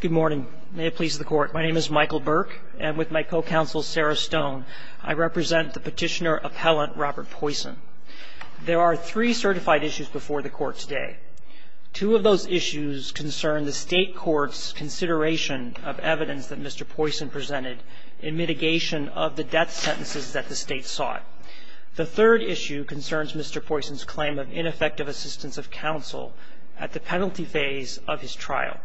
Good morning. May it please the court. My name is Michael Burke, and with my co-counsel Sarah Stone, I represent the petitioner-appellant Robert Poyson. There are three certified issues before the court today. Two of those issues concern the state court's consideration of evidence that Mr. Poyson presented in mitigation of the death sentences that the state sought. The third issue concerns Mr. Poyson's claim of ineffective assistance of counsel at the penalty phase of his trial.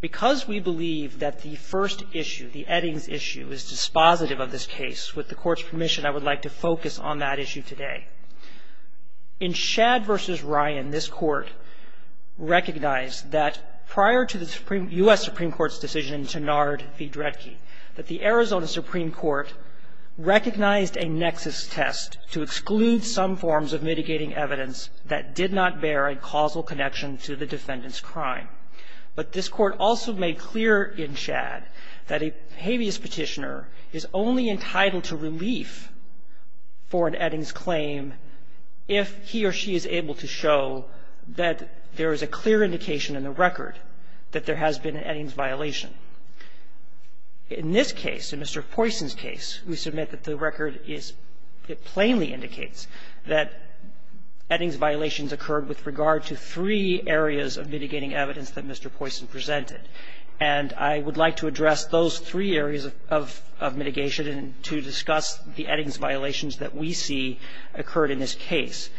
Because we believe that the first issue, the Eddings issue, is dispositive of this case, with the court's permission, I would like to focus on that issue today. In Shadd v. Ryan, this Court recognized that prior to the U.S. Supreme Court's decision to Nard v. Dredge, that the Arizona Supreme Court recognized a nexus test to exclude some forms of mitigating evidence that did not bear a causal connection to the defendant's crime. But this Court also made clear in Shadd that a habeas petitioner is only entitled to relief for an Eddings claim if he or she is able to show that there is a clear indication in the record that there has been an Eddings violation. In this case, in Mr. Poyson's case, we submit that the record is – it plainly that Eddings violations occurred with regard to three areas of mitigating evidence that Mr. Poyson presented. And I would like to address those three areas of mitigation to discuss the Eddings violations that we see occurred in this case.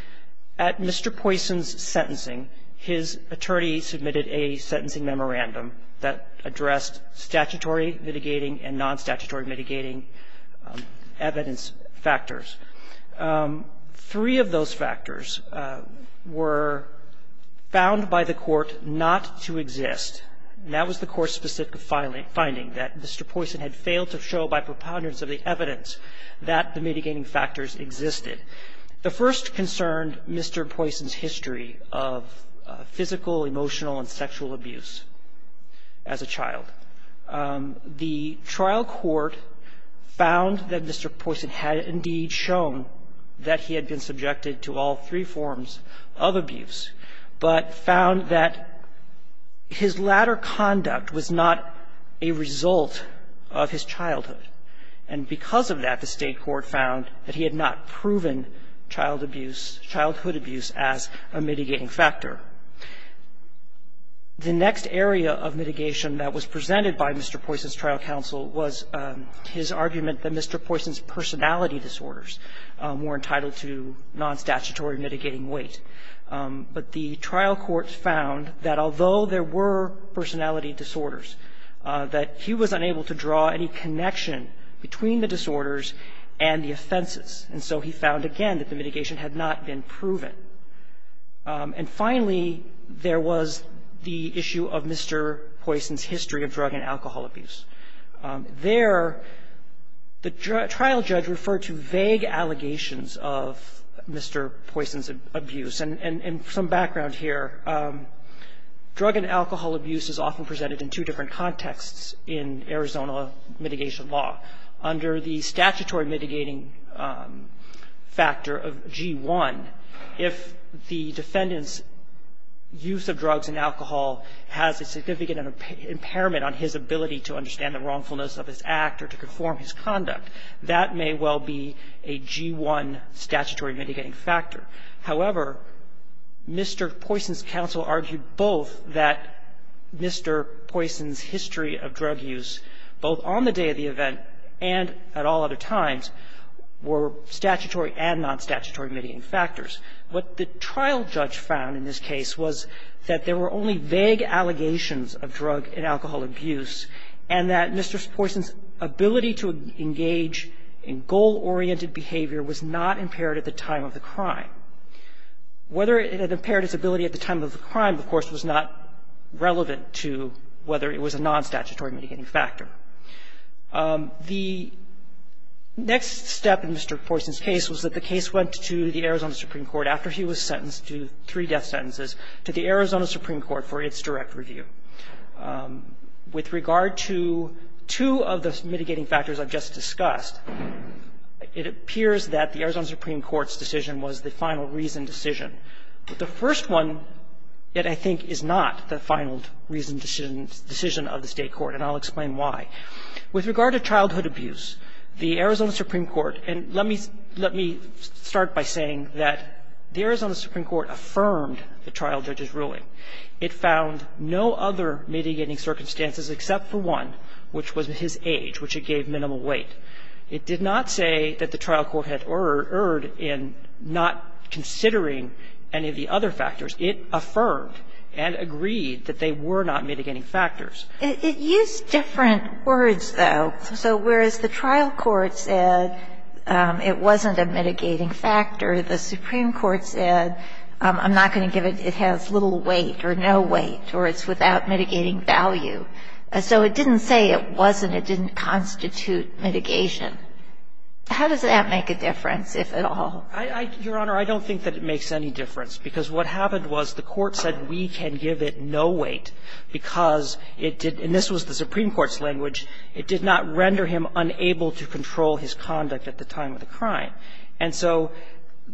At Mr. Poyson's sentencing, his attorney submitted a sentencing memorandum that addressed statutory mitigating and non-statutory mitigating evidence factors. Three of those factors were found by the Court not to exist. That was the Court's specific finding, that Mr. Poyson had failed to show by preponderance of the evidence that the mitigating factors existed. The first concerned Mr. Poyson's history of physical, emotional, and sexual abuse as a child. The trial court found that Mr. Poyson had indeed shown that he had been subjected to all three forms of abuse, but found that his latter conduct was not a result of his childhood. And because of that, the State court found that he had not proven child abuse, childhood abuse, as a mitigating factor. The next area of mitigation that was presented by Mr. Poyson's trial counsel was his argument that Mr. Poyson's personality disorders were entitled to non-statutory mitigating weight. But the trial court found that although there were personality disorders, that he was unable to draw any connection between the disorders and the offenses. And so he found, again, that the mitigation had not been proven. And finally, there was the issue of Mr. Poyson's history of drug and alcohol abuse. There, the trial judge referred to vague allegations of Mr. Poyson's abuse. And some background here, drug and alcohol abuse is often presented in two different contexts in Arizona mitigation law. Under the statutory mitigating factor of G1, if the defendant's use of drugs and alcohol has a significant impairment on his ability to understand the wrongfulness of his act or to conform his conduct, that may well be a G1 statutory mitigating factor. However, Mr. Poyson's counsel argued both that Mr. Poyson's history of drug use, both on the day of the event and at all other times, were statutory and non-statutory mitigating factors. What the trial judge found in this case was that there were only vague allegations of drug and alcohol abuse and that Mr. Poyson's ability to engage in goal-oriented behavior was not impaired at the time of the crime. Whether it had impaired its ability at the time of the crime, of course, was not relevant to whether it was a non-statutory mitigating factor. The next step in Mr. Poyson's case was that the case went to the Arizona Supreme Court after he was sentenced to three death sentences to the Arizona Supreme Court for its direct review. With regard to two of the mitigating factors I've just discussed, it appears that the Arizona Supreme Court's decision was the final reason decision. The first one, yet I think, is not the final reason decision of the State court, and I'll explain why. With regard to childhood abuse, the Arizona Supreme Court – and let me start by saying that the Arizona Supreme Court affirmed the trial judge's ruling. It found no other mitigating circumstances except for one, which was his age, which it gave minimal weight. It did not say that the trial court had erred in not considering any of the other factors. It affirmed and agreed that they were not mitigating factors. It used different words, though. So whereas the trial court said it wasn't a mitigating factor, the Supreme Court said, I'm not going to give it – it has little weight or no weight or it's without mitigating value. So it didn't say it wasn't, it didn't constitute mitigation. How does that make a difference, if at all? I – Your Honor, I don't think that it makes any difference, because what happened was the court said we can give it no weight because it did – and this was the Supreme Court's language – it did not render him unable to control his conduct at the time of the crime. And so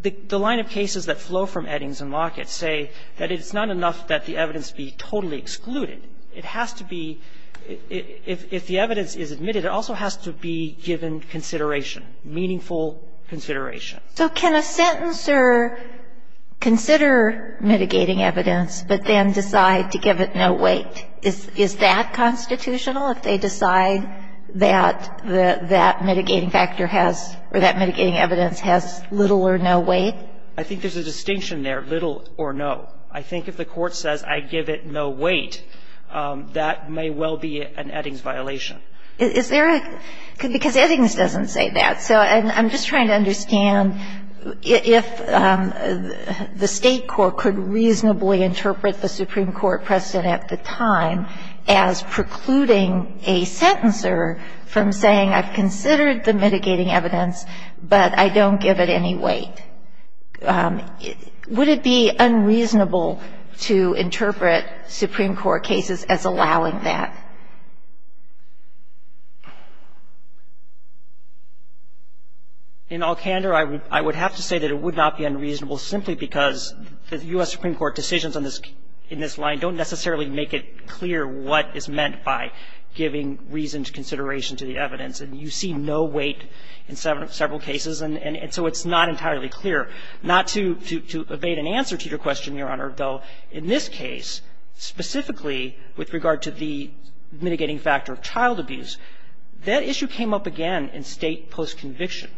the line of cases that flow from Eddings and Lockett say that it's not enough that the evidence be totally excluded. It has to be – if the evidence is admitted, it also has to be given consideration, meaningful consideration. So can a sentencer consider mitigating evidence but then decide to give it no weight? Is that constitutional, if they decide that that mitigating factor has – or that mitigating evidence has little or no weight? I think there's a distinction there, little or no. I think if the court says I give it no weight, that may well be an Eddings violation. Is there a – because Eddings doesn't say that. So I'm just trying to understand if the State court could reasonably interpret the Supreme Court precedent at the time as precluding a sentencer from saying I've considered the mitigating evidence, but I don't give it any weight. Would it be unreasonable to interpret Supreme Court cases as allowing that? In all candor, I would have to say that it would not be unreasonable simply because the U.S. Supreme Court decisions in this line don't necessarily make it clear what is meant by giving reasoned consideration to the evidence. And you see no weight in several cases. And so it's not entirely clear. Not to evade an answer to your question, Your Honor, though, in this case, specifically with regard to the mitigating factor of child abuse, that issue came up again in State post-conviction.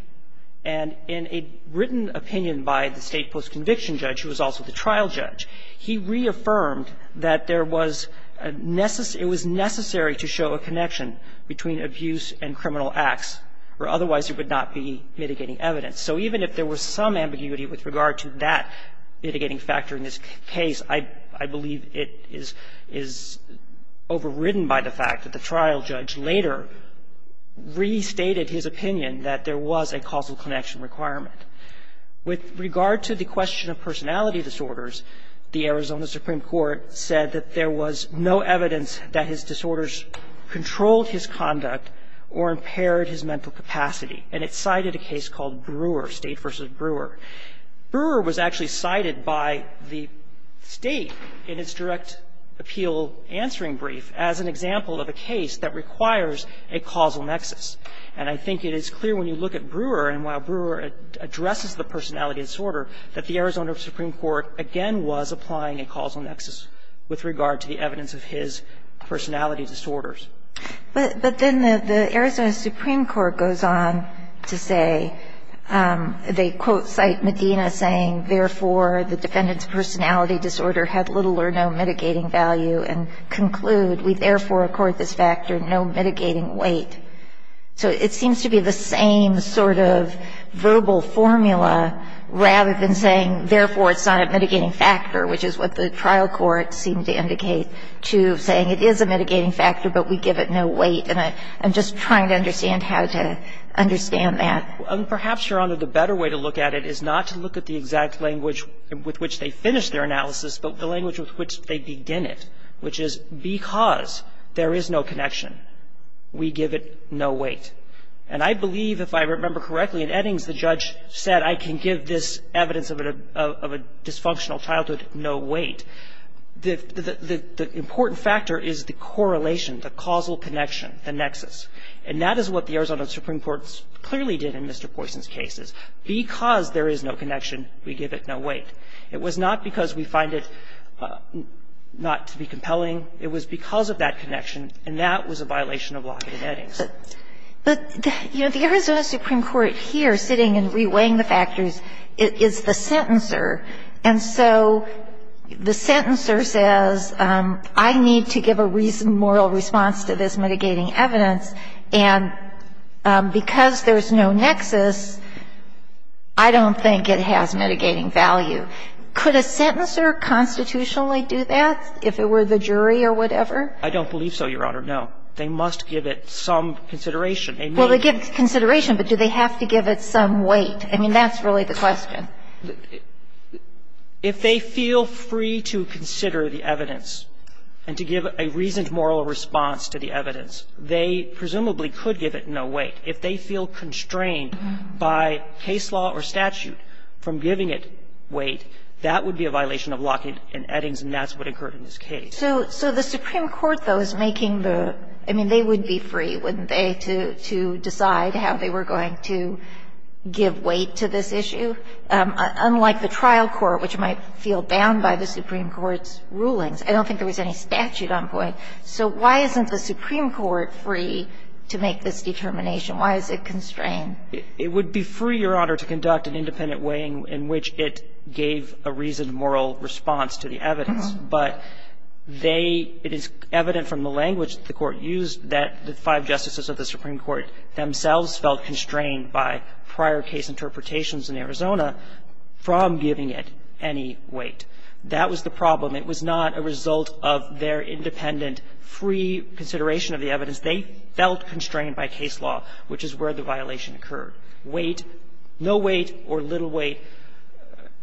And in a written opinion by the State post-conviction judge, who was also the trial judge, he reaffirmed that there was a necessary – it was necessary to show a connection between abuse and criminal acts, or otherwise it would not be mitigating evidence. So even if there was some ambiguity with regard to that mitigating factor in this case, I believe it is overridden by the fact that the trial judge later restated his opinion that there was a causal connection requirement. With regard to the question of personality disorders, the Arizona Supreme Court said that there was no evidence that his disorders controlled his conduct or impaired his mental capacity. And it cited a case called Brewer, State v. Brewer. Brewer was actually cited by the State in its direct appeal answering brief as an example of a case that requires a causal nexus. And I think it is clear when you look at Brewer, and while Brewer addresses the personality disorder, that the Arizona Supreme Court, again, was applying a causal nexus with regard to the evidence of his personality disorders. But then the Arizona Supreme Court goes on to say, they quote, cite Medina, saying, therefore, the defendant's personality disorder had little or no mitigating value, and conclude, we therefore accord this factor no mitigating weight. So it seems to be the same sort of verbal formula, rather than saying, therefore, it's not a mitigating factor, which is what the trial court seemed to indicate, to saying it is a mitigating factor, but we give it no weight. And I'm just trying to understand how to understand that. And perhaps, Your Honor, the better way to look at it is not to look at the exact language with which they finish their analysis, but the language with which they begin it, which is, because there is no connection. We give it no weight. And I believe, if I remember correctly, in Eddings, the judge said, I can give this evidence of a dysfunctional childhood no weight. The important factor is the correlation, the causal connection, the nexus. And that is what the Arizona Supreme Court clearly did in Mr. Poisson's case, because there is no connection, we give it no weight. It was not because we find it not to be compelling. It was because of that connection, and that was a violation of Lockett and Eddings. But, you know, the Arizona Supreme Court here, sitting and reweighing the factors, is the sentencer. And so the sentencer says, I need to give a moral response to this mitigating evidence, and because there is no nexus, I don't think it has mitigating value. Could a sentencer constitutionally do that, if it were the jury or whatever? I don't believe so, Your Honor, no. They must give it some consideration. Well, they give consideration, but do they have to give it some weight? I mean, that's really the question. If they feel free to consider the evidence and to give a reasoned moral response to the evidence, they presumably could give it no weight. If they feel constrained by case law or statute from giving it weight, that would be a violation of Lockett and Eddings, and that's what occurred in this case. So the Supreme Court, though, is making the – I mean, they would be free, wouldn't they, to decide how they were going to give weight to this issue? Unlike the trial court, which might feel bound by the Supreme Court's rulings. I don't think there was any statute on point. So why isn't the Supreme Court free to make this determination? Why is it constrained? It would be free, Your Honor, to conduct an independent way in which it gave a reasoned moral response to the evidence. But they – it is evident from the language that the Court used that the five justices of the Supreme Court themselves felt constrained by prior case interpretations in Arizona from giving it any weight. That was the problem. It was not a result of their independent, free consideration of the evidence. They felt constrained by case law, which is where the violation occurred. Weight, no weight or little weight,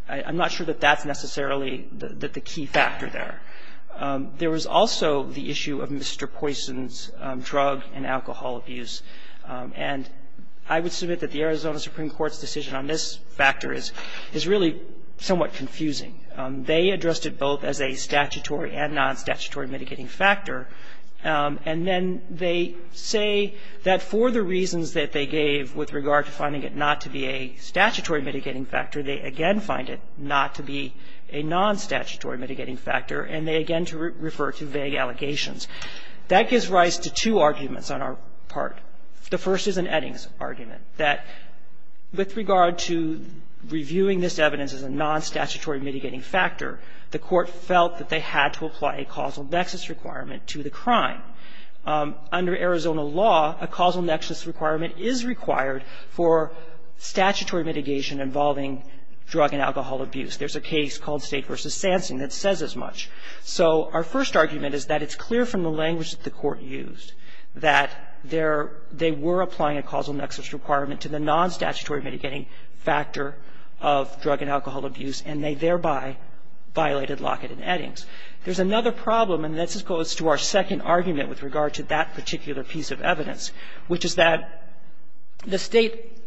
I'm not sure that that's necessarily the key factor there. There was also the issue of Mr. Poisson's drug and alcohol abuse. And I would submit that the Arizona Supreme Court's decision on this factor is really somewhat confusing. They addressed it both as a statutory and non-statutory mitigating factor. And then they say that for the reasons that they gave with regard to finding it not to be a statutory mitigating factor, they again find it not to be a non-statutory mitigating factor, and they again refer to vague allegations. That gives rise to two arguments on our part. The first is an Eddings argument, that with regard to reviewing this evidence as a non-statutory mitigating factor, the court felt that they had to apply a causal nexus requirement to the crime. Under Arizona law, a causal nexus requirement is required for statutory mitigation involving drug and alcohol abuse. There's a case called State v. Sansing that says as much. So our first argument is that it's clear from the language that the court used, that they were applying a causal nexus requirement to the non-statutory mitigating factor of drug and alcohol abuse, and they thereby violated Lockett and Eddings. There's another problem, and this goes to our second argument with regard to that particular piece of evidence, which is that the State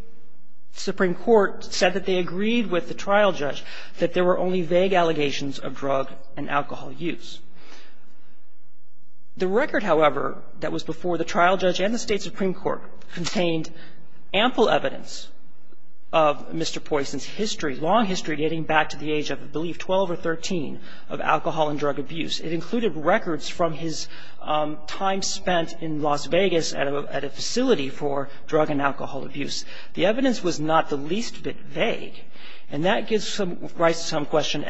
supreme court said that they agreed with the trial judge that there were only vague allegations of drug and alcohol use. The record, however, that was before the trial judge and the State supreme court contained ample evidence of Mr. Poison's history, long history, dating back to the age of, I believe, 12 or 13, of alcohol and drug abuse. It included records from his time spent in Las Vegas at a facility for drug and alcohol abuse. The evidence was not the least bit vague, and that gives rise to some question of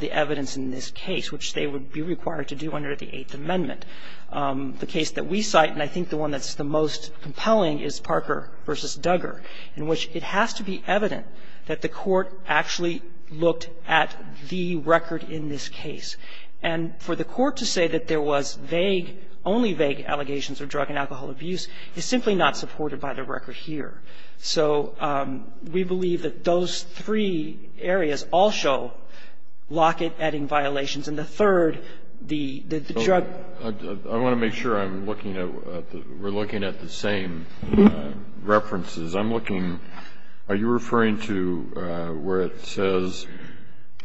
the evidence in this case, which they would be required to do under the Eighth Amendment. The case that we cite, and I think the one that's the most compelling, is Parker v. Duggar, in which it has to be evident that the court actually looked at the record in this case. And for the court to say that there was vague, only vague allegations of drug and alcohol abuse is simply not supported by the record here. So we believe that those three areas also locket adding violations. And the third, the drug ---- I want to make sure I'm looking at the we're looking at the same references. I'm looking, are you referring to where it says,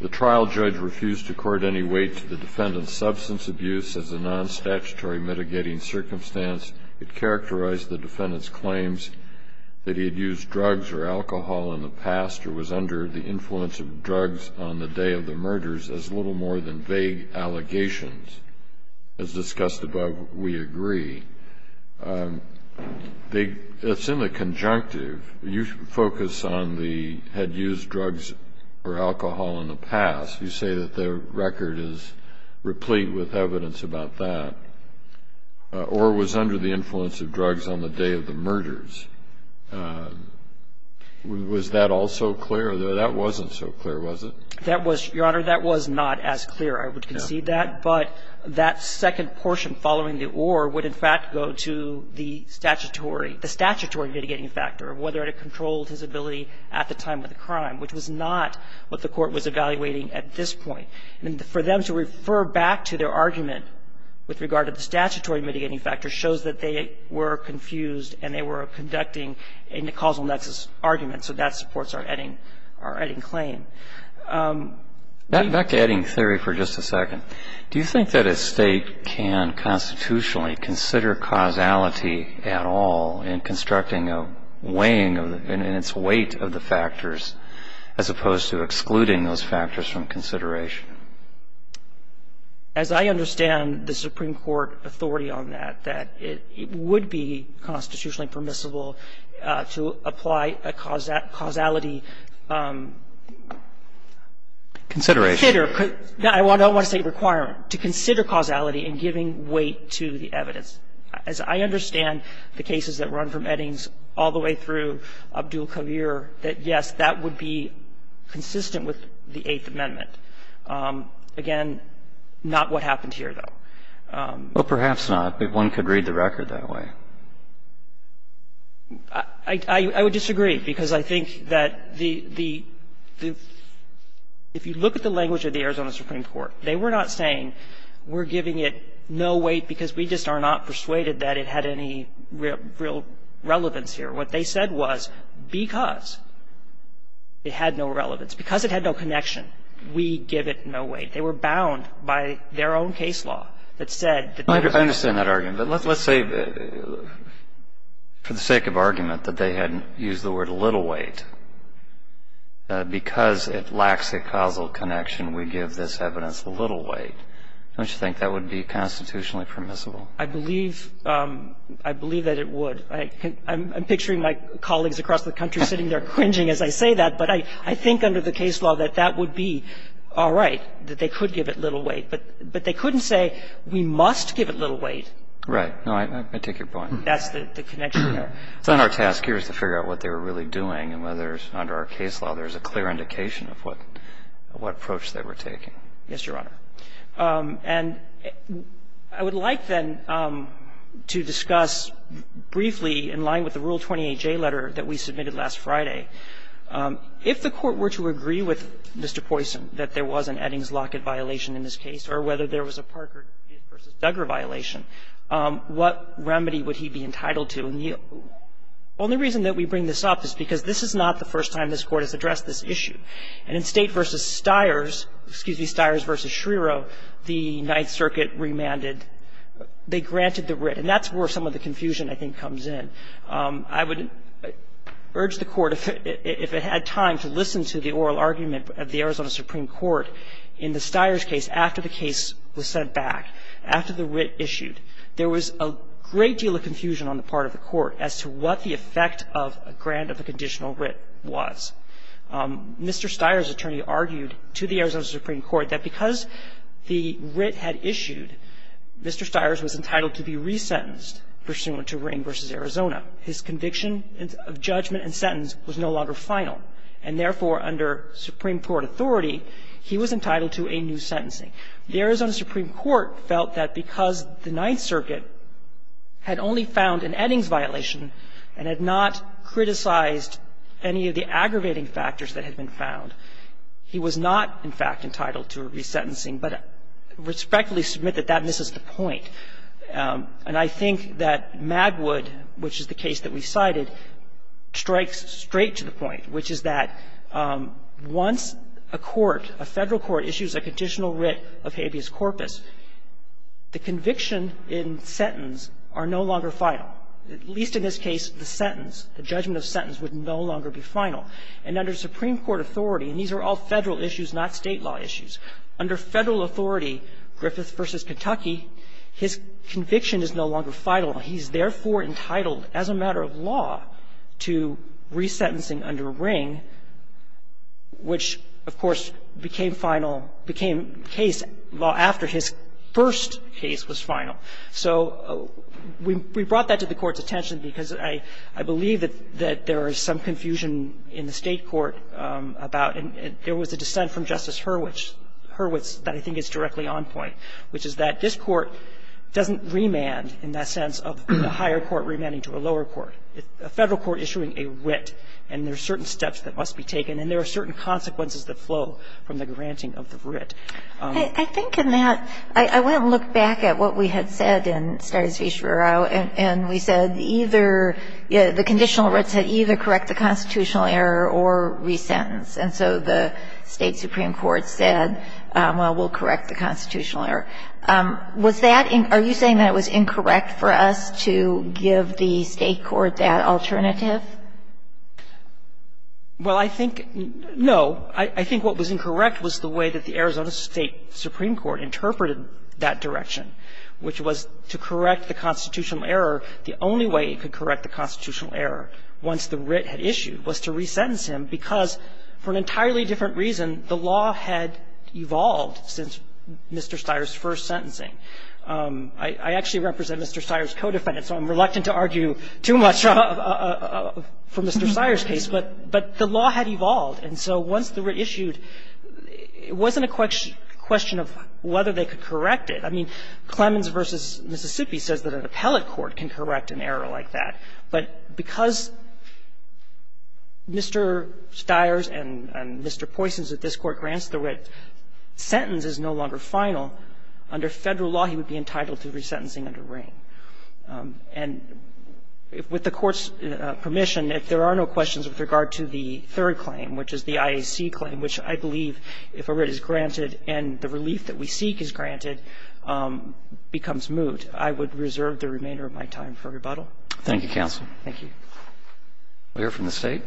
The trial judge refused to court any weight to the defendant's substance abuse as a non-statutory mitigating circumstance. It characterized the defendant's claims that he had used drugs or alcohol in the past or was under the influence of drugs on the day of the murders as little more than vague allegations. As discussed above, we agree. It's in the conjunctive. You focus on the had used drugs or alcohol in the past. You say that the record is replete with evidence about that. Or was under the influence of drugs on the day of the murders. Was that also clear? That wasn't so clear, was it? That was, Your Honor, that was not as clear. I would concede that. But that second portion following the or would, in fact, go to the statutory, the statutory mitigating factor of whether or not it controlled his ability at the time of the crime, which was not what the court was evaluating at this point. And for them to refer back to their argument with regard to the statutory mitigating factor shows that they were confused and they were conducting a causal nexus argument. So that supports our Edding claim. Back to Edding theory for just a second. Do you think that a State can constitutionally consider causality at all in constructing a weighing in its weight of the factors as opposed to excluding those factors from consideration? As I understand the Supreme Court authority on that, that it would be constitutionally permissible to apply a causality. Consideration. I don't want to say requirement. To consider causality in giving weight to the evidence. As I understand the cases that run from Eddings all the way through Abdul Khavir, that, yes, that would be consistent with the Eighth Amendment. Again, not what happened here, though. Well, perhaps not, but one could read the record that way. I would disagree, because I think that the – if you look at the language of the Arizona Supreme Court, they were not saying we're giving it no weight because we just are not persuaded that it had any real relevance here. What they said was because it had no relevance, because it had no connection, we give it no weight. They were bound by their own case law that said that there was no weight. I understand that argument. But let's say, for the sake of argument, that they had used the word little weight. Because it lacks a causal connection, we give this evidence the little weight. Don't you think that would be constitutionally permissible? I believe – I believe that it would. I'm picturing my colleagues across the country sitting there cringing as I say that. But I think under the case law that that would be all right, that they could give it little weight. But they couldn't say we must give it little weight. Right. No, I take your point. That's the connection there. It's not our task here is to figure out what they were really doing and whether under our case law there's a clear indication of what approach they were taking. Yes, Your Honor. And I would like, then, to discuss briefly, in line with the Rule 28J letter that we submitted last Friday, if the Court were to agree with Mr. Poison that there was an Eddings-Lockett violation in this case or whether there was a Parker v. Duggar violation, what remedy would he be entitled to? And the only reason that we bring this up is because this is not the first time this Court has addressed this issue. And in State v. Stiers, excuse me, Stiers v. Schreero, the Ninth Circuit remanded they granted the writ. And that's where some of the confusion, I think, comes in. I would urge the Court, if it had time, to listen to the oral argument of the Arizona Supreme Court in the Stiers case after the case was sent back, after the writ issued. There was a great deal of confusion on the part of the Court as to what the effect of a grant of a conditional writ was. Mr. Stiers' attorney argued to the Arizona Supreme Court that because the writ had issued, Mr. Stiers was entitled to be resentenced pursuant to Ring v. Arizona. His conviction of judgment and sentence was no longer final. And therefore, under Supreme Court authority, he was entitled to a new sentencing. The Arizona Supreme Court felt that because the Ninth Circuit had only found an Eddings violation and had not criticized any of the aggravating factors that had been found, he was not, in fact, entitled to a resentencing. But I respectfully submit that that misses the point. And I think that Magwood, which is the case that we cited, strikes straight to the point, which is that once a court, a Federal court, issues a conditional writ of habeas corpus, the conviction and sentence are no longer final. At least in this case, the sentence, the judgment of sentence would no longer be final. And under Supreme Court authority, and these are all Federal issues, not State law issues, under Federal authority, Griffith v. Kentucky, his conviction is no longer final, and he's therefore entitled, as a matter of law, to resentencing under Ring, which, of course, became final, became case law after his first case was I believe that there is some confusion in the State court about, and there was a dissent from Justice Hurwitz that I think is directly on point, which is that this court doesn't remand in that sense of a higher court remanding to a lower court. A Federal court issuing a writ, and there are certain steps that must be taken, and there are certain consequences that flow from the granting of the writ. I think in that, I went and looked back at what we had said in Stare's v. Shrurow, and we said either, the conditional writ said either correct the constitutional error or resentence. And so the State supreme court said, well, we'll correct the constitutional error. Was that, are you saying that it was incorrect for us to give the State court that alternative? Well, I think, no. I think what was incorrect was the way that the Arizona State supreme court interpreted that direction, which was to correct the constitutional error, the only way it could correct the constitutional error once the writ had issued was to resentence him, because for an entirely different reason, the law had evolved since Mr. Stires' first sentencing. I actually represent Mr. Stires' co-defendants, so I'm reluctant to argue too much for Mr. Stires' case, but the law had evolved. And so once the writ issued, it wasn't a question of whether they could correct it. I mean, Clemens v. Mississippi says that an appellate court can correct an error like that. But because Mr. Stires and Mr. Poisons at this Court grants the writ, sentence is no longer final, under Federal law, he would be entitled to resentencing under Ring. And with the Court's permission, if there are no questions with regard to the third claim, which is the IAC claim, which I believe, if a writ is granted and the relief that we seek is granted, becomes moot, I would reserve the remainder of my time for rebuttal. Thank you, counsel. Thank you. We'll hear from the State.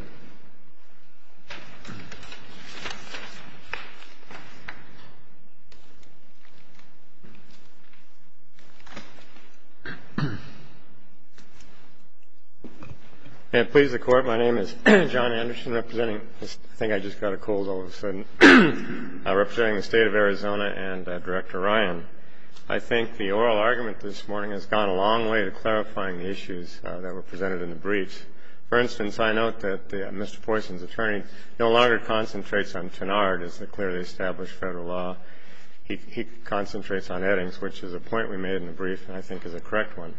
May it please the Court. Thank you, Mr. Stires and Director Ryan. I think the oral argument this morning has gone a long way to clarifying the issues that were presented in the briefs. For instance, I note that Mr. Poisons' attorney no longer concentrates on Tenard as the clearly established Federal law. He concentrates on Eddings, which is a point we made in the brief and I think is a correct one.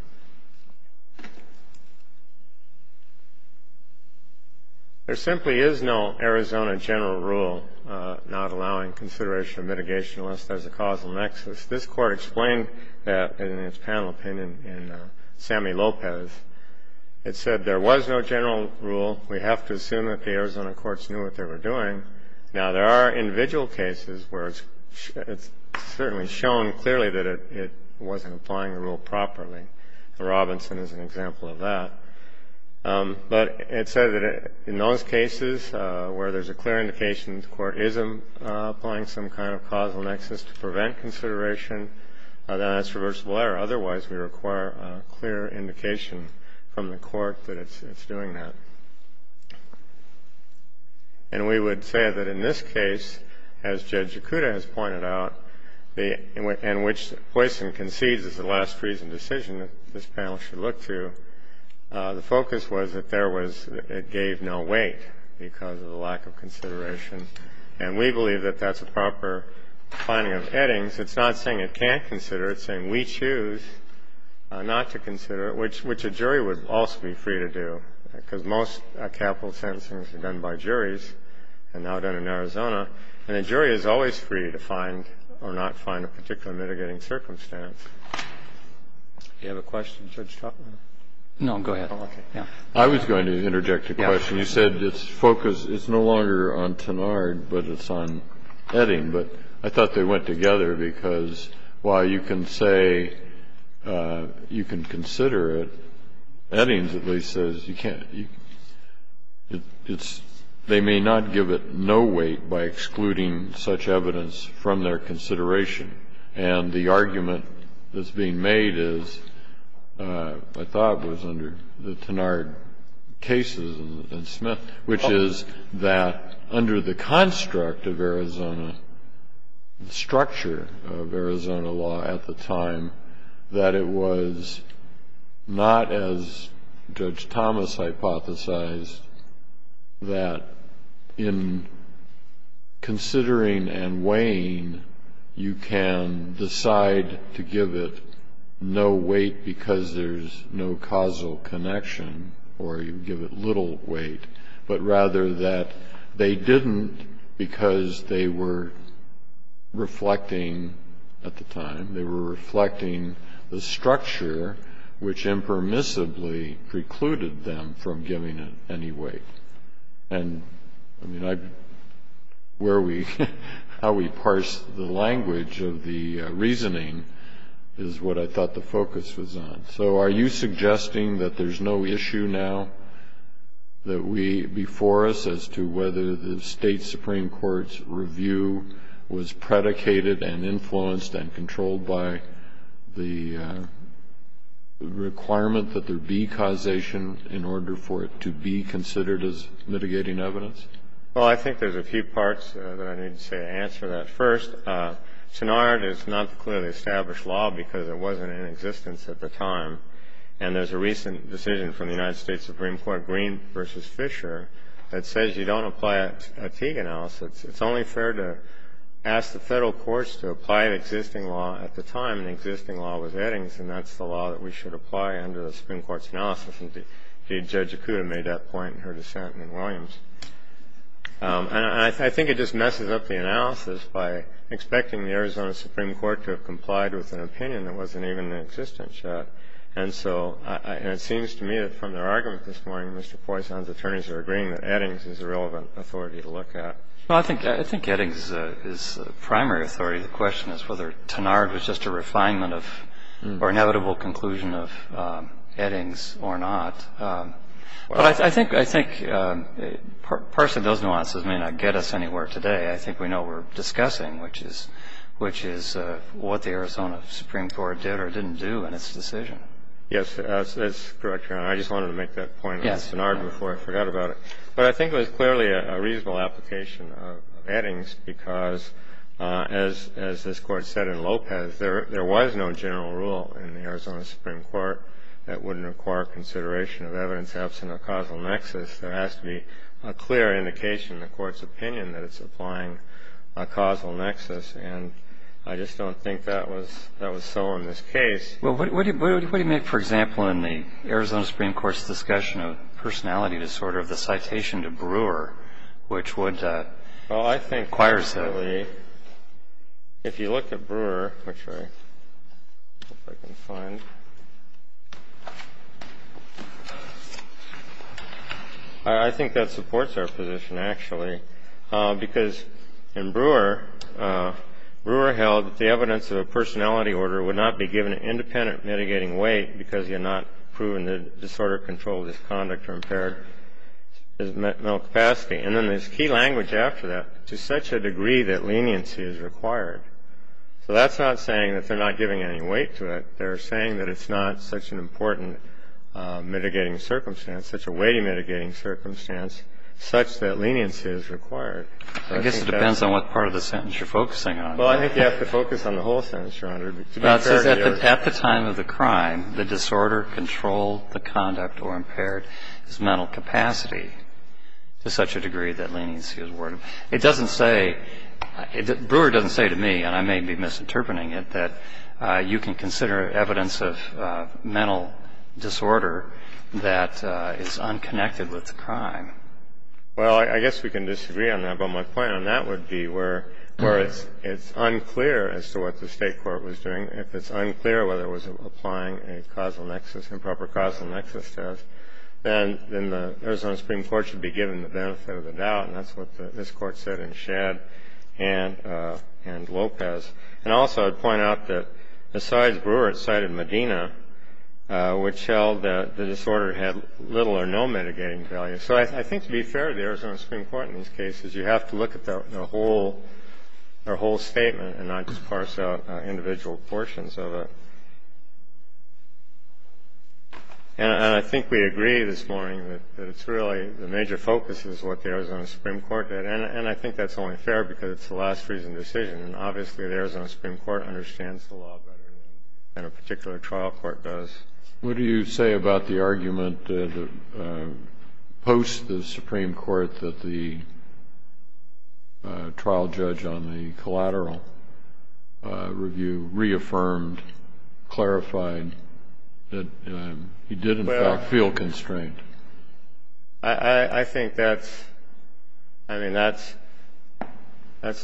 There simply is no Arizona general rule not allowing consideration of mitigation unless there's a causal nexus. This Court explained that in its panel opinion in Sammy Lopez. It said there was no general rule. We have to assume that the Arizona courts knew what they were doing. Now, there are individual cases where it's certainly shown clearly that it wasn't applying the rule properly. Robinson is an example of that. But it said that in those cases where there's a clear indication the Court is applying some kind of causal nexus to prevent consideration, that's reversible error. Otherwise, we require a clear indication from the Court that it's doing that. And we would say that in this case, as Judge Yakuta has pointed out, in which Poison concedes is the last reason decision that this panel should look to, the focus was that there was — it gave no weight because of the lack of consideration. And we believe that that's a proper finding of Eddings. It's not saying it can't consider. It's saying we choose not to consider, which a jury would also be free to do, because most capital sentencing is done by juries and now done in Arizona. And a jury is always free to find or not find a particular mitigating circumstance. Do you have a question, Judge Totner? No. Go ahead. I was going to interject a question. You said it's focused — it's no longer on Tenard, but it's on Edding. But I thought they went together because while you can say you can consider it, Eddings at least says you can't — it's — they may not give it no weight by excluding such evidence from their consideration. And the argument that's being made is — I thought it was under the Tenard cases and Smith — which is that under the construct of Arizona — the structure of Arizona law at the time, that it was not as Judge Thomas hypothesized, that in considering and weighing you can decide to give it no weight because there's no causal connection, or you give it little weight. But rather that they didn't because they were reflecting at the time, they were reflecting the structure which impermissibly precluded them from giving it any weight. And, I mean, I — where we — how we parse the language of the reasoning is what I thought the focus was on. So are you suggesting that there's no issue now that we — before us as to whether the State Supreme Court's review was predicated and influenced and controlled by the requirement that there be causation in order for it to be considered as mitigating evidence? Well, I think there's a few parts that I need to say to answer that. First, Tenard is not clearly established law because it wasn't in existence at the time. And there's a recent decision from the United States Supreme Court, Green v. Fisher, that says you don't apply a Teague analysis. It's only fair to ask the Federal courts to apply an existing law at the time, an existing law with Eddings, and that's the law that we should apply under the Supreme Court's analysis. Indeed, Judge Akuta made that point in her dissent in Williams. And I think it just messes up the analysis by expecting the Arizona Supreme Court to have complied with an opinion that wasn't even in existence yet. And so — and it seems to me that from their argument this morning, Mr. Poisson's attorneys are agreeing that Eddings is a relevant authority to look at. Well, I think — I think Eddings is the primary authority. The question is whether Tenard was just a refinement of — or inevitable conclusion of Eddings or not. But I think — I think, personally, those nuances may not get us anywhere today. I think we know what we're discussing, which is — which is what the Arizona Supreme Court did or didn't do in its decision. Yes, that's correct, Your Honor. I just wanted to make that point on Tenard before I forgot about it. But I think it was clearly a reasonable application of Eddings because, as — as this Court said in Lopez, there — there was no general rule in the Arizona Supreme Court that wouldn't require consideration of evidence absent of causal nexus. There has to be a clear indication in the Court's opinion that it's applying a causal nexus. And I just don't think that was — that was so in this case. Well, what do — what do you make, for example, in the Arizona Supreme Court's discussion of personality disorder, of the citation to Brewer, which would require some of the — Well, I think, personally, if you look at Brewer, which I — if I can find — I think that supports our position, actually, because in Brewer, Brewer held that the evidence of a personality order would not be given an independent mitigating weight because you know, there's a lot of people who are saying that the only way to control the conduct or impaired is mental capacity. And then there's key language after that, to such a degree that leniency is required. So that's not saying that they're not giving any weight to it. They're saying that it's not such an important mitigating circumstance, such a weighty mitigating circumstance such that leniency is required. I think that's — I guess it depends on what part of the sentence you're focusing on. Well, I think you have to focus on the whole sentence, Your Honor. But to be fair to your — Well, I guess we can disagree on that, but my point on that would be where it's unclear as to what the state court was doing, if it's unclear whether it was applying a causal nexus, improper causal nexus test, then the Arizona Supreme Court should be given the benefit of the doubt. And that's what this Court said in Shadd and Lopez. And also I'd point out that besides Brewer, it cited Medina, which held that the disorder had little or no mitigating value. So I think to be fair to the Arizona Supreme Court in these cases, you have to look at the whole statement and not just parse out individual portions of it. And I think we agree this morning that it's really — the major focus is what the Arizona Supreme Court did. And I think that's only fair because it's a last-reason decision, and obviously the Arizona Supreme Court understands the law better than a particular trial court does. What do you say about the argument that — post the Supreme Court that the trial judge on the collateral review reaffirmed, clarified that he did, in fact, feel constraint? I think that's — I mean, that's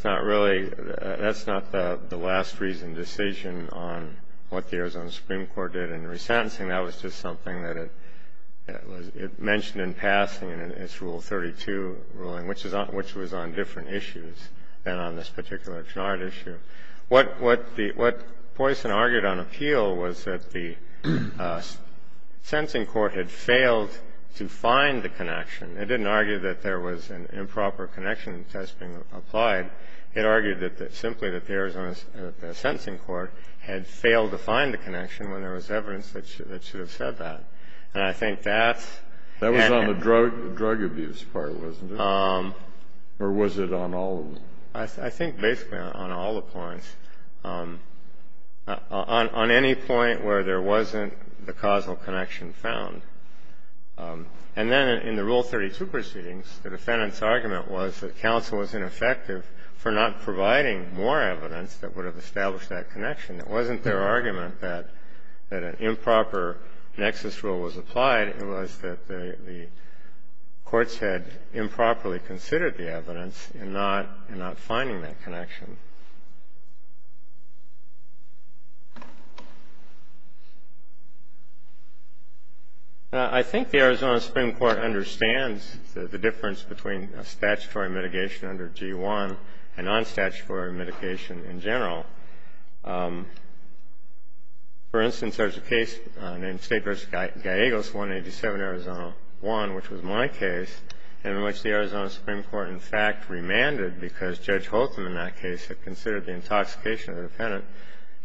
not really — that's not the last-reason decision on what the Arizona Supreme Court did in resentencing. That was just something that it was — it mentioned in passing in its Rule 32 ruling, which is on — which was on different issues than on this particular Chouinard issue. What — what the — what Poisson argued on appeal was that the sentencing court had failed to find the connection. It didn't argue that there was an improper connection test being applied. It argued that — simply that the Arizona sentencing court had failed to find the connection when there was evidence that should have said that. And I think that's — That was on the drug abuse part, wasn't it? Or was it on all of them? I think basically on all the points, on any point where there wasn't the causal connection found. And then in the Rule 32 proceedings, the defendant's argument was that counsel was ineffective for not providing more evidence that would have established that connection. It wasn't their argument that — that an improper nexus rule was applied. It was that the courts had improperly considered the evidence in not — in not finding that connection. I think the Arizona Supreme Court understands the difference between a statutory mitigation under G-1 and non-statutory mitigation in general. For instance, there's a case named State v. Gallegos, 187, Arizona 1, which was my case, and which the Arizona Supreme Court, in fact, remanded because Judge Hotham in that case had considered the intoxication of the defendant.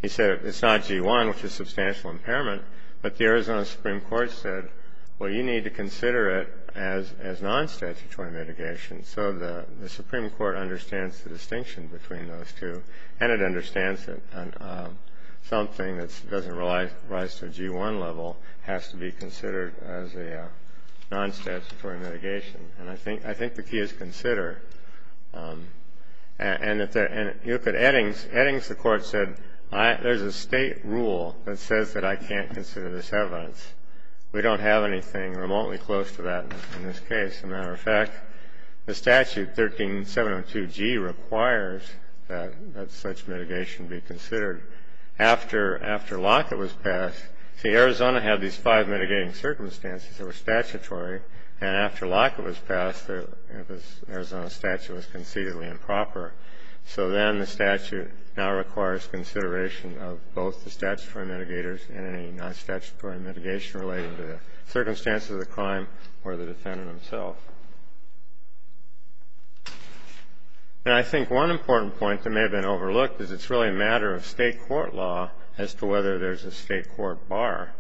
He said it's not G-1, which is substantial impairment, but the Arizona Supreme Court said, well, you need to consider it as non-statutory mitigation. So the Supreme Court understands the distinction between those two, and it understands that something that doesn't rise to a G-1 level has to be considered as a non-statutory mitigation. And I think — I think the key is consider. And if the — and you look at Eddings, Eddings, the Court said, there's a State rule that says that I can't consider this evidence. We don't have anything remotely close to that in this case. As a matter of fact, the statute, 13702G, requires that such mitigation be considered. After Lockett was passed — see, Arizona had these five mitigating circumstances that were statutory, and after Lockett was passed, the Arizona statute was concededly improper. So then the statute now requires consideration of both the statutory mitigators and any non-statutory mitigation related to the circumstances of the crime or the defendant himself. And I think one important point that may have been overlooked is it's really a matter of state court law as to whether there's a state court bar.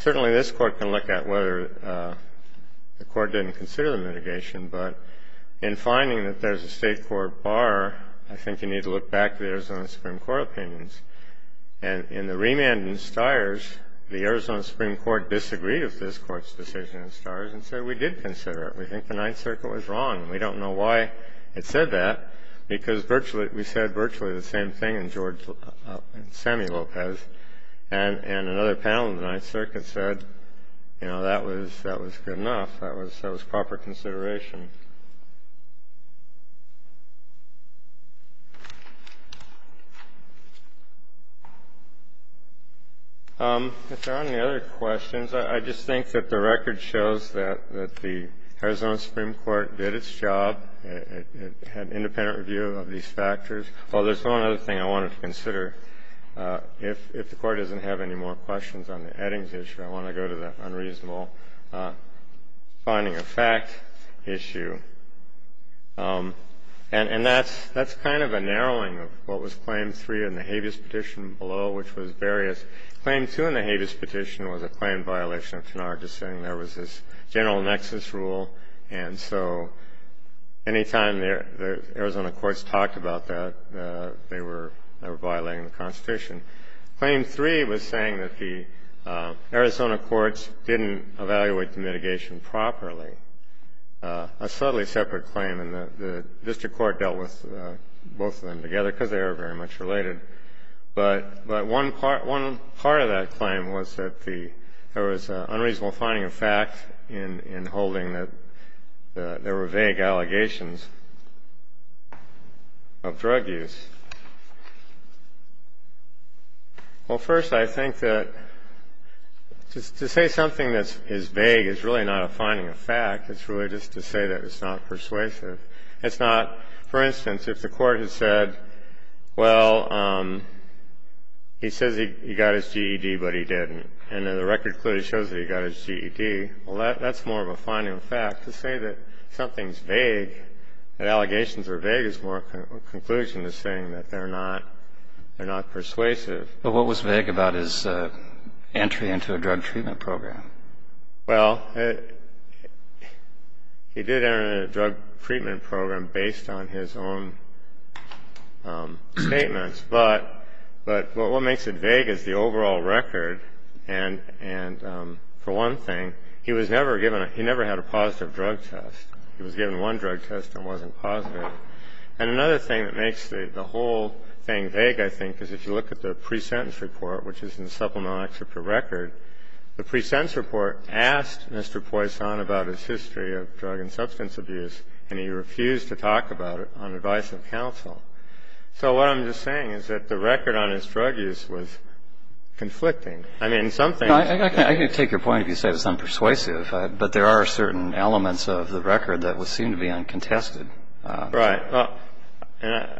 Certainly, this Court can look at whether the Court didn't consider the mitigation, but in finding that there's a state court bar, I think you need to look back to the Arizona Supreme Court opinions. And in the remand in Stires, the Arizona Supreme Court disagreed with this Court's decision in Stires and said, we did consider it. We think the Ninth Circuit was wrong. And we don't know why it said that, because we said virtually the same thing in Sammy Lopez, and another panel in the Ninth Circuit said, you know, that was good enough. That was proper consideration. If there aren't any other questions, I just think that the record shows that the Arizona Supreme Court did its job. It had independent review of these factors. Oh, there's one other thing I wanted to consider. If the Court doesn't have any more questions on the Eddings issue, I want to go to that unreasonable finding of fact issue. And that's kind of a narrowing of what was Claim 3 in the habeas petition below, which was various. Claim 2 in the habeas petition was a claim violation of Tanar just saying there was this general nexus rule. And so any time the Arizona courts talked about that, they were violating the Constitution. Claim 3 was saying that the Arizona courts didn't evaluate the mitigation properly, a subtly separate claim. And the district court dealt with both of them together, because they were very much related. But one part of that claim was that there was an unreasonable finding of fact in holding that there were vague allegations of drug use. Well, first, I think that to say something that is vague is really not a finding of fact, it's really just to say that it's not persuasive. It's not, for instance, if the Court has said, well, he says he got his GED, but he didn't. And then the record clearly shows that he got his GED. Well, that's more of a finding of fact. To say that something's vague, that allegations are vague, is more a conclusion to saying that they're not persuasive. But what was vague about his entry into a drug treatment program? Well, he did enter into a drug treatment program based on his own statements. But what makes it vague is the overall record. And for one thing, he never had a positive drug test. He was given one drug test and wasn't positive. And another thing that makes the whole thing vague, I think, is if you look at the pre-sentence report, which is in the Supplemental Excerpt for Record, the pre-sentence report asked Mr. Poisson about his history of drug and substance abuse, and he refused to talk about it on advice of counsel. So what I'm just saying is that the record on his drug use was conflicting. I mean, some things... I can take your point if you say it's unpersuasive, but there are certain elements of the record that seem to be uncontested. Right. Well, I don't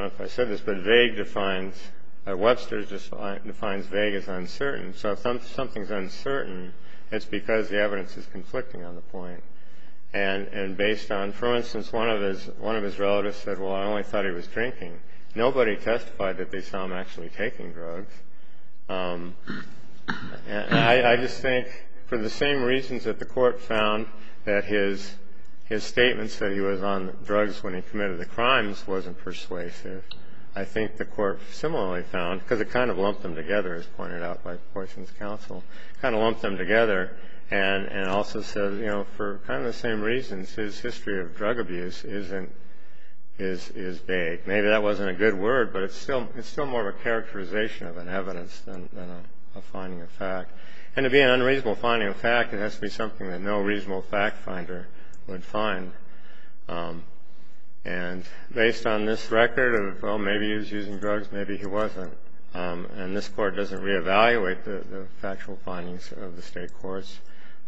know if I said this, but vague defines... Webster just defines vague as uncertain. So if something's uncertain, it's because the evidence is conflicting on the point. And based on... For instance, one of his relatives said, well, I only thought he was drinking. Nobody testified that they saw him actually taking drugs. I just think, for the same reasons that the court found that his statements that he was on drugs when he committed the crimes wasn't persuasive, I think the court similarly found, because it kind of lumped them together, as pointed out by Poisson's counsel, kind of lumped them together, and also said, you know, for kind of the same reasons, his history of drug abuse isn't... is vague. Maybe that wasn't a good word, but it's still more of a characterization of an evidence than a finding of fact. And to be an unreasonable finding of fact, it has to be something that no reasonable fact finder would find. And based on this record of, well, maybe he was using drugs, maybe he wasn't. And this court doesn't reevaluate the factual findings of the state courts.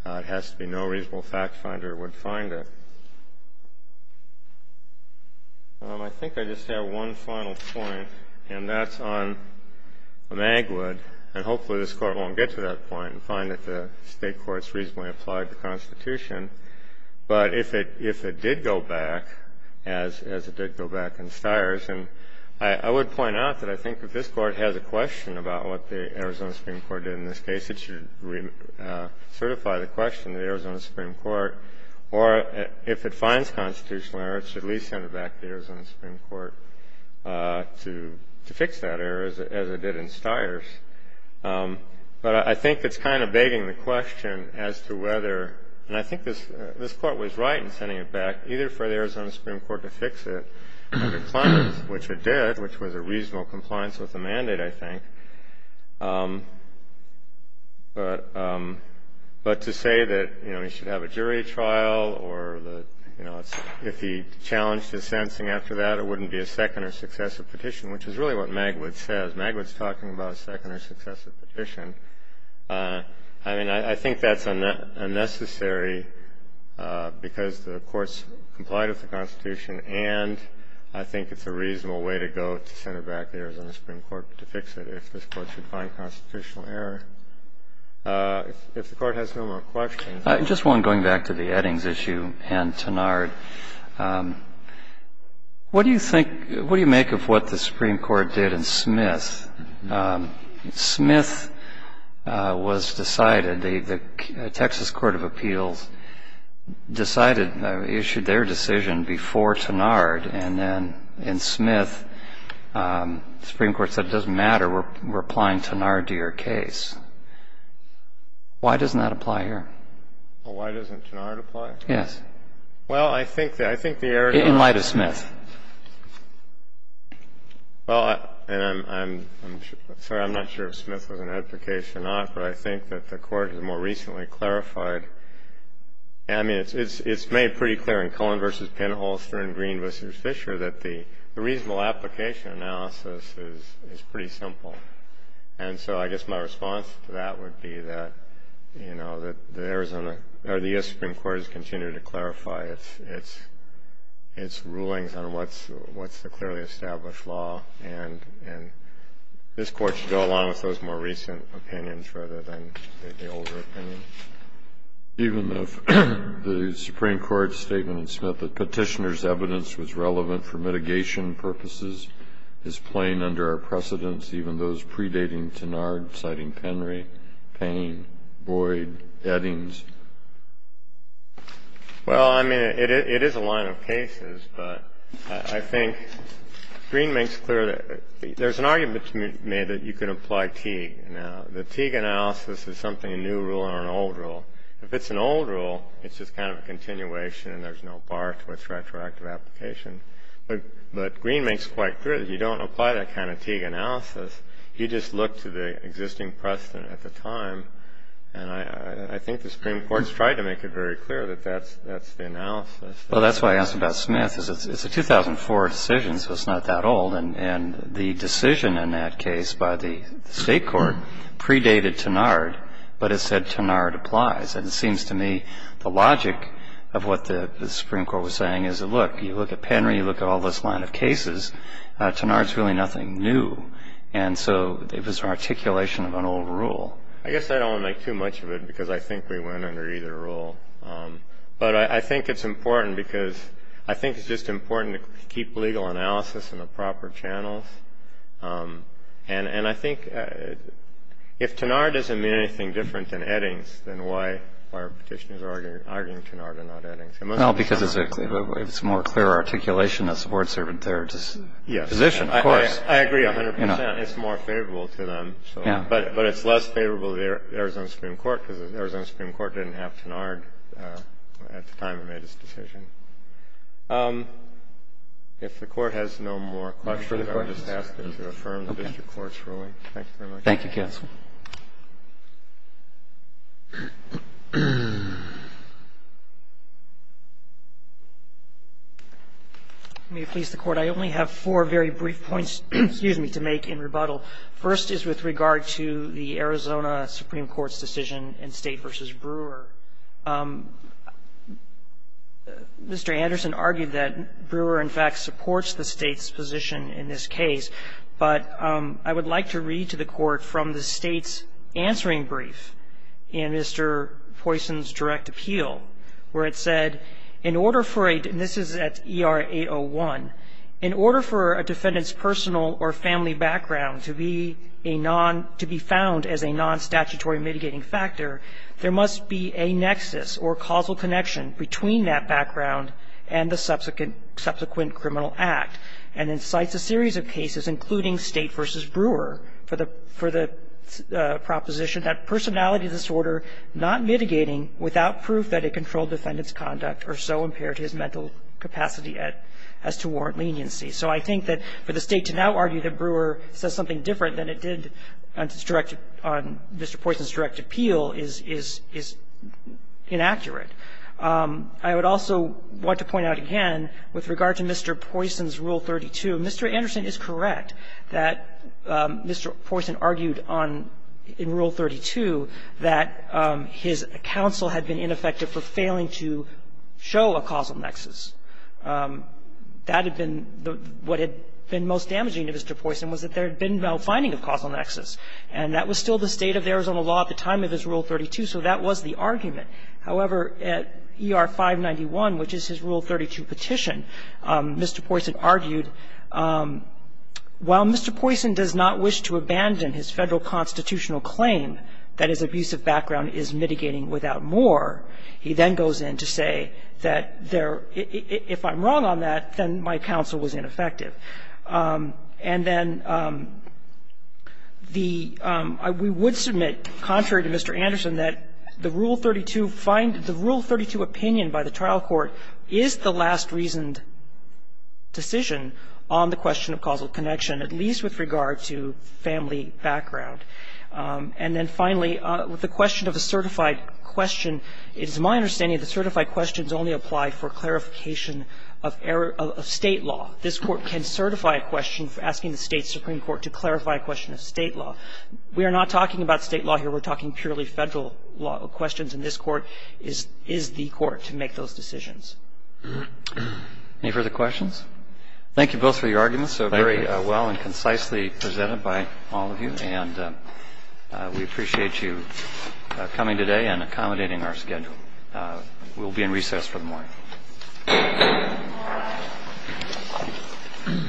It has to be no reasonable fact finder would find it. I think I just have one final point, and that's on Magwood. And hopefully this Court won't get to that point and find that the state courts reasonably applied the Constitution. But if it did go back, as it did go back in Stiers, and I would point out that I think that this Court has a question about what the Arizona Supreme Court did in this case. It should certify the question to the Arizona Supreme Court. Or if it finds constitutional error, it should at least send it back to the Arizona Supreme Court to fix that error, as it did in Stiers. But I think it's kind of begging the question as to whether... And I think this Court was right in sending it back, either for the Arizona Supreme Court to fix it, which it did, which was a reasonable compliance with the mandate, I think. But to say that, you know, you should have a jury trial or that, you know, if he challenged his sensing after that, it wouldn't be a second or successive petition, which is really what Magwood says. Magwood's talking about a second or successive petition. I mean, I think that's unnecessary because the courts complied with the Constitution, and I think it's a reasonable way to go to send it back to the Arizona Supreme Court to fix it, if this Court should find constitutional error. If the Court has no more questions... Just one going back to the Eddings issue and Tenard. What do you think, what do you make of what the Supreme Court did in Smith? Smith was decided, the Texas Court of Appeals decided, issued their decision before Tenard, and then in Smith, the Supreme Court said, it doesn't matter. We're applying Tenard to your case. Why doesn't that apply here? Why doesn't Tenard apply? Yes. Well, I think the error... In light of Smith. Well, and I'm not sure if Smith was in Ed's case or not, but I think that the Court has more recently clarified. I mean, it's made pretty clear in Cullen v. Penhall, Stern-Green v. Fisher, that the reasonable application analysis is pretty simple. And so I guess my response to that would be that the Arizona, or the U.S. Supreme Court has continued to clarify its rulings on what's the clearly established law, and this Court should go along with those more recent opinions rather than the older opinions. Even if the Supreme Court's statement in Smith that petitioner's evidence was relevant for mitigation purposes is plain under our precedence, even those predating Tenard, citing Penry, Payne, Boyd, Eddings? Well, I mean, it is a line of cases, but I think Green makes clear that there's an argument to be made that you can apply Teague. Now, the Teague analysis is something, a new rule or an old rule. If it's an old rule, it's just kind of a continuation and there's no bar to its retroactive application. But Green makes quite clear that you don't apply that kind of Teague analysis. You just look to the existing precedent at the time. And I think the Supreme Court's tried to make it very clear that that's the analysis. Well, that's why I asked about Smith, is it's a 2004 decision, so it's not that old. And the decision in that case by the State Court predated Tenard, but it said Tenard applies. And it seems to me the logic of what the Supreme Court was saying is, look, you look at Penry, you look at all this line of cases, Tenard's really nothing new. And so it was an articulation of an old rule. I guess I don't want to make too much of it because I think we went under either rule. But I think it's important because I think it's just important to keep legal analysis in the proper channels. And I think if Tenard doesn't mean anything different than Eddings, then why are petitioners arguing Tenard and not Eddings? Well, because it's a more clear articulation that supports their position, of course. I agree 100%. It's more favorable to them. But it's less favorable to the Arizona Supreme Court because the Arizona Supreme Court didn't have Tenard at the time it made its decision. If the Court has no more questions, I would just ask them to affirm the district court's ruling. Thank you very much. Thank you, counsel. May it please the Court. I only have four very brief points, excuse me, to make in rebuttal. First is with regard to the Arizona Supreme Court's decision in State v. Brewer. Mr. Anderson argued that Brewer, in fact, supports the State's position in this case. But I would like to read to the Court from the State's answering brief in Mr. Poisson's direct appeal where it said, in order for a, and this is at ER 801, in order for a defendant's personal or family background to be a non, to be found as a non-statutory mitigating factor, there must be a nexus or causal connection between that background and the subsequent criminal act. And it cites a series of cases, including State v. Brewer, for the proposition that personality disorder not mitigating without proof that it controlled defendant's conduct or so impaired his mental capacity as to warrant leniency. So I think that for the State to now argue that Brewer says something different than it did on Mr. Poisson's direct appeal is inaccurate. I would also want to point out again, with regard to Mr. Poisson's Rule 32, Mr. Anderson is correct that Mr. Poisson argued in Rule 32 that his counsel had been ineffective for failing to show a causal nexus. That had been, what had been most damaging to Mr. Poisson was that there had been no finding of causal nexus. And that was still the state of Arizona law at the time of his Rule 32, so that was the argument. However, at ER 591, which is his Rule 32 petition, Mr. Poisson argued, while Mr. Poisson does not wish to abandon his federal constitutional claim that his abusive background is mitigating without more, he then goes in to say that there, if I'm wrong on that, then my counsel was ineffective. And then the, we would submit, contrary to Mr. Anderson, that the Rule 32 find, the Rule 32 opinion by the trial court is the last reasoned decision on the question of causal connection, at least with regard to family background. And then finally, with the question of a certified question, it is my understanding the certified questions only apply for clarification of state law. This Court can certify a question asking the State Supreme Court to clarify a question of state law. We are not talking about state law here. We're talking purely federal law questions, and this Court is the Court to make those decisions. Any further questions? Thank you both for your arguments. Thank you. So very well and concisely presented by all of you, and we appreciate you coming today and accommodating our schedule. We'll be in recess for the morning. Thank you.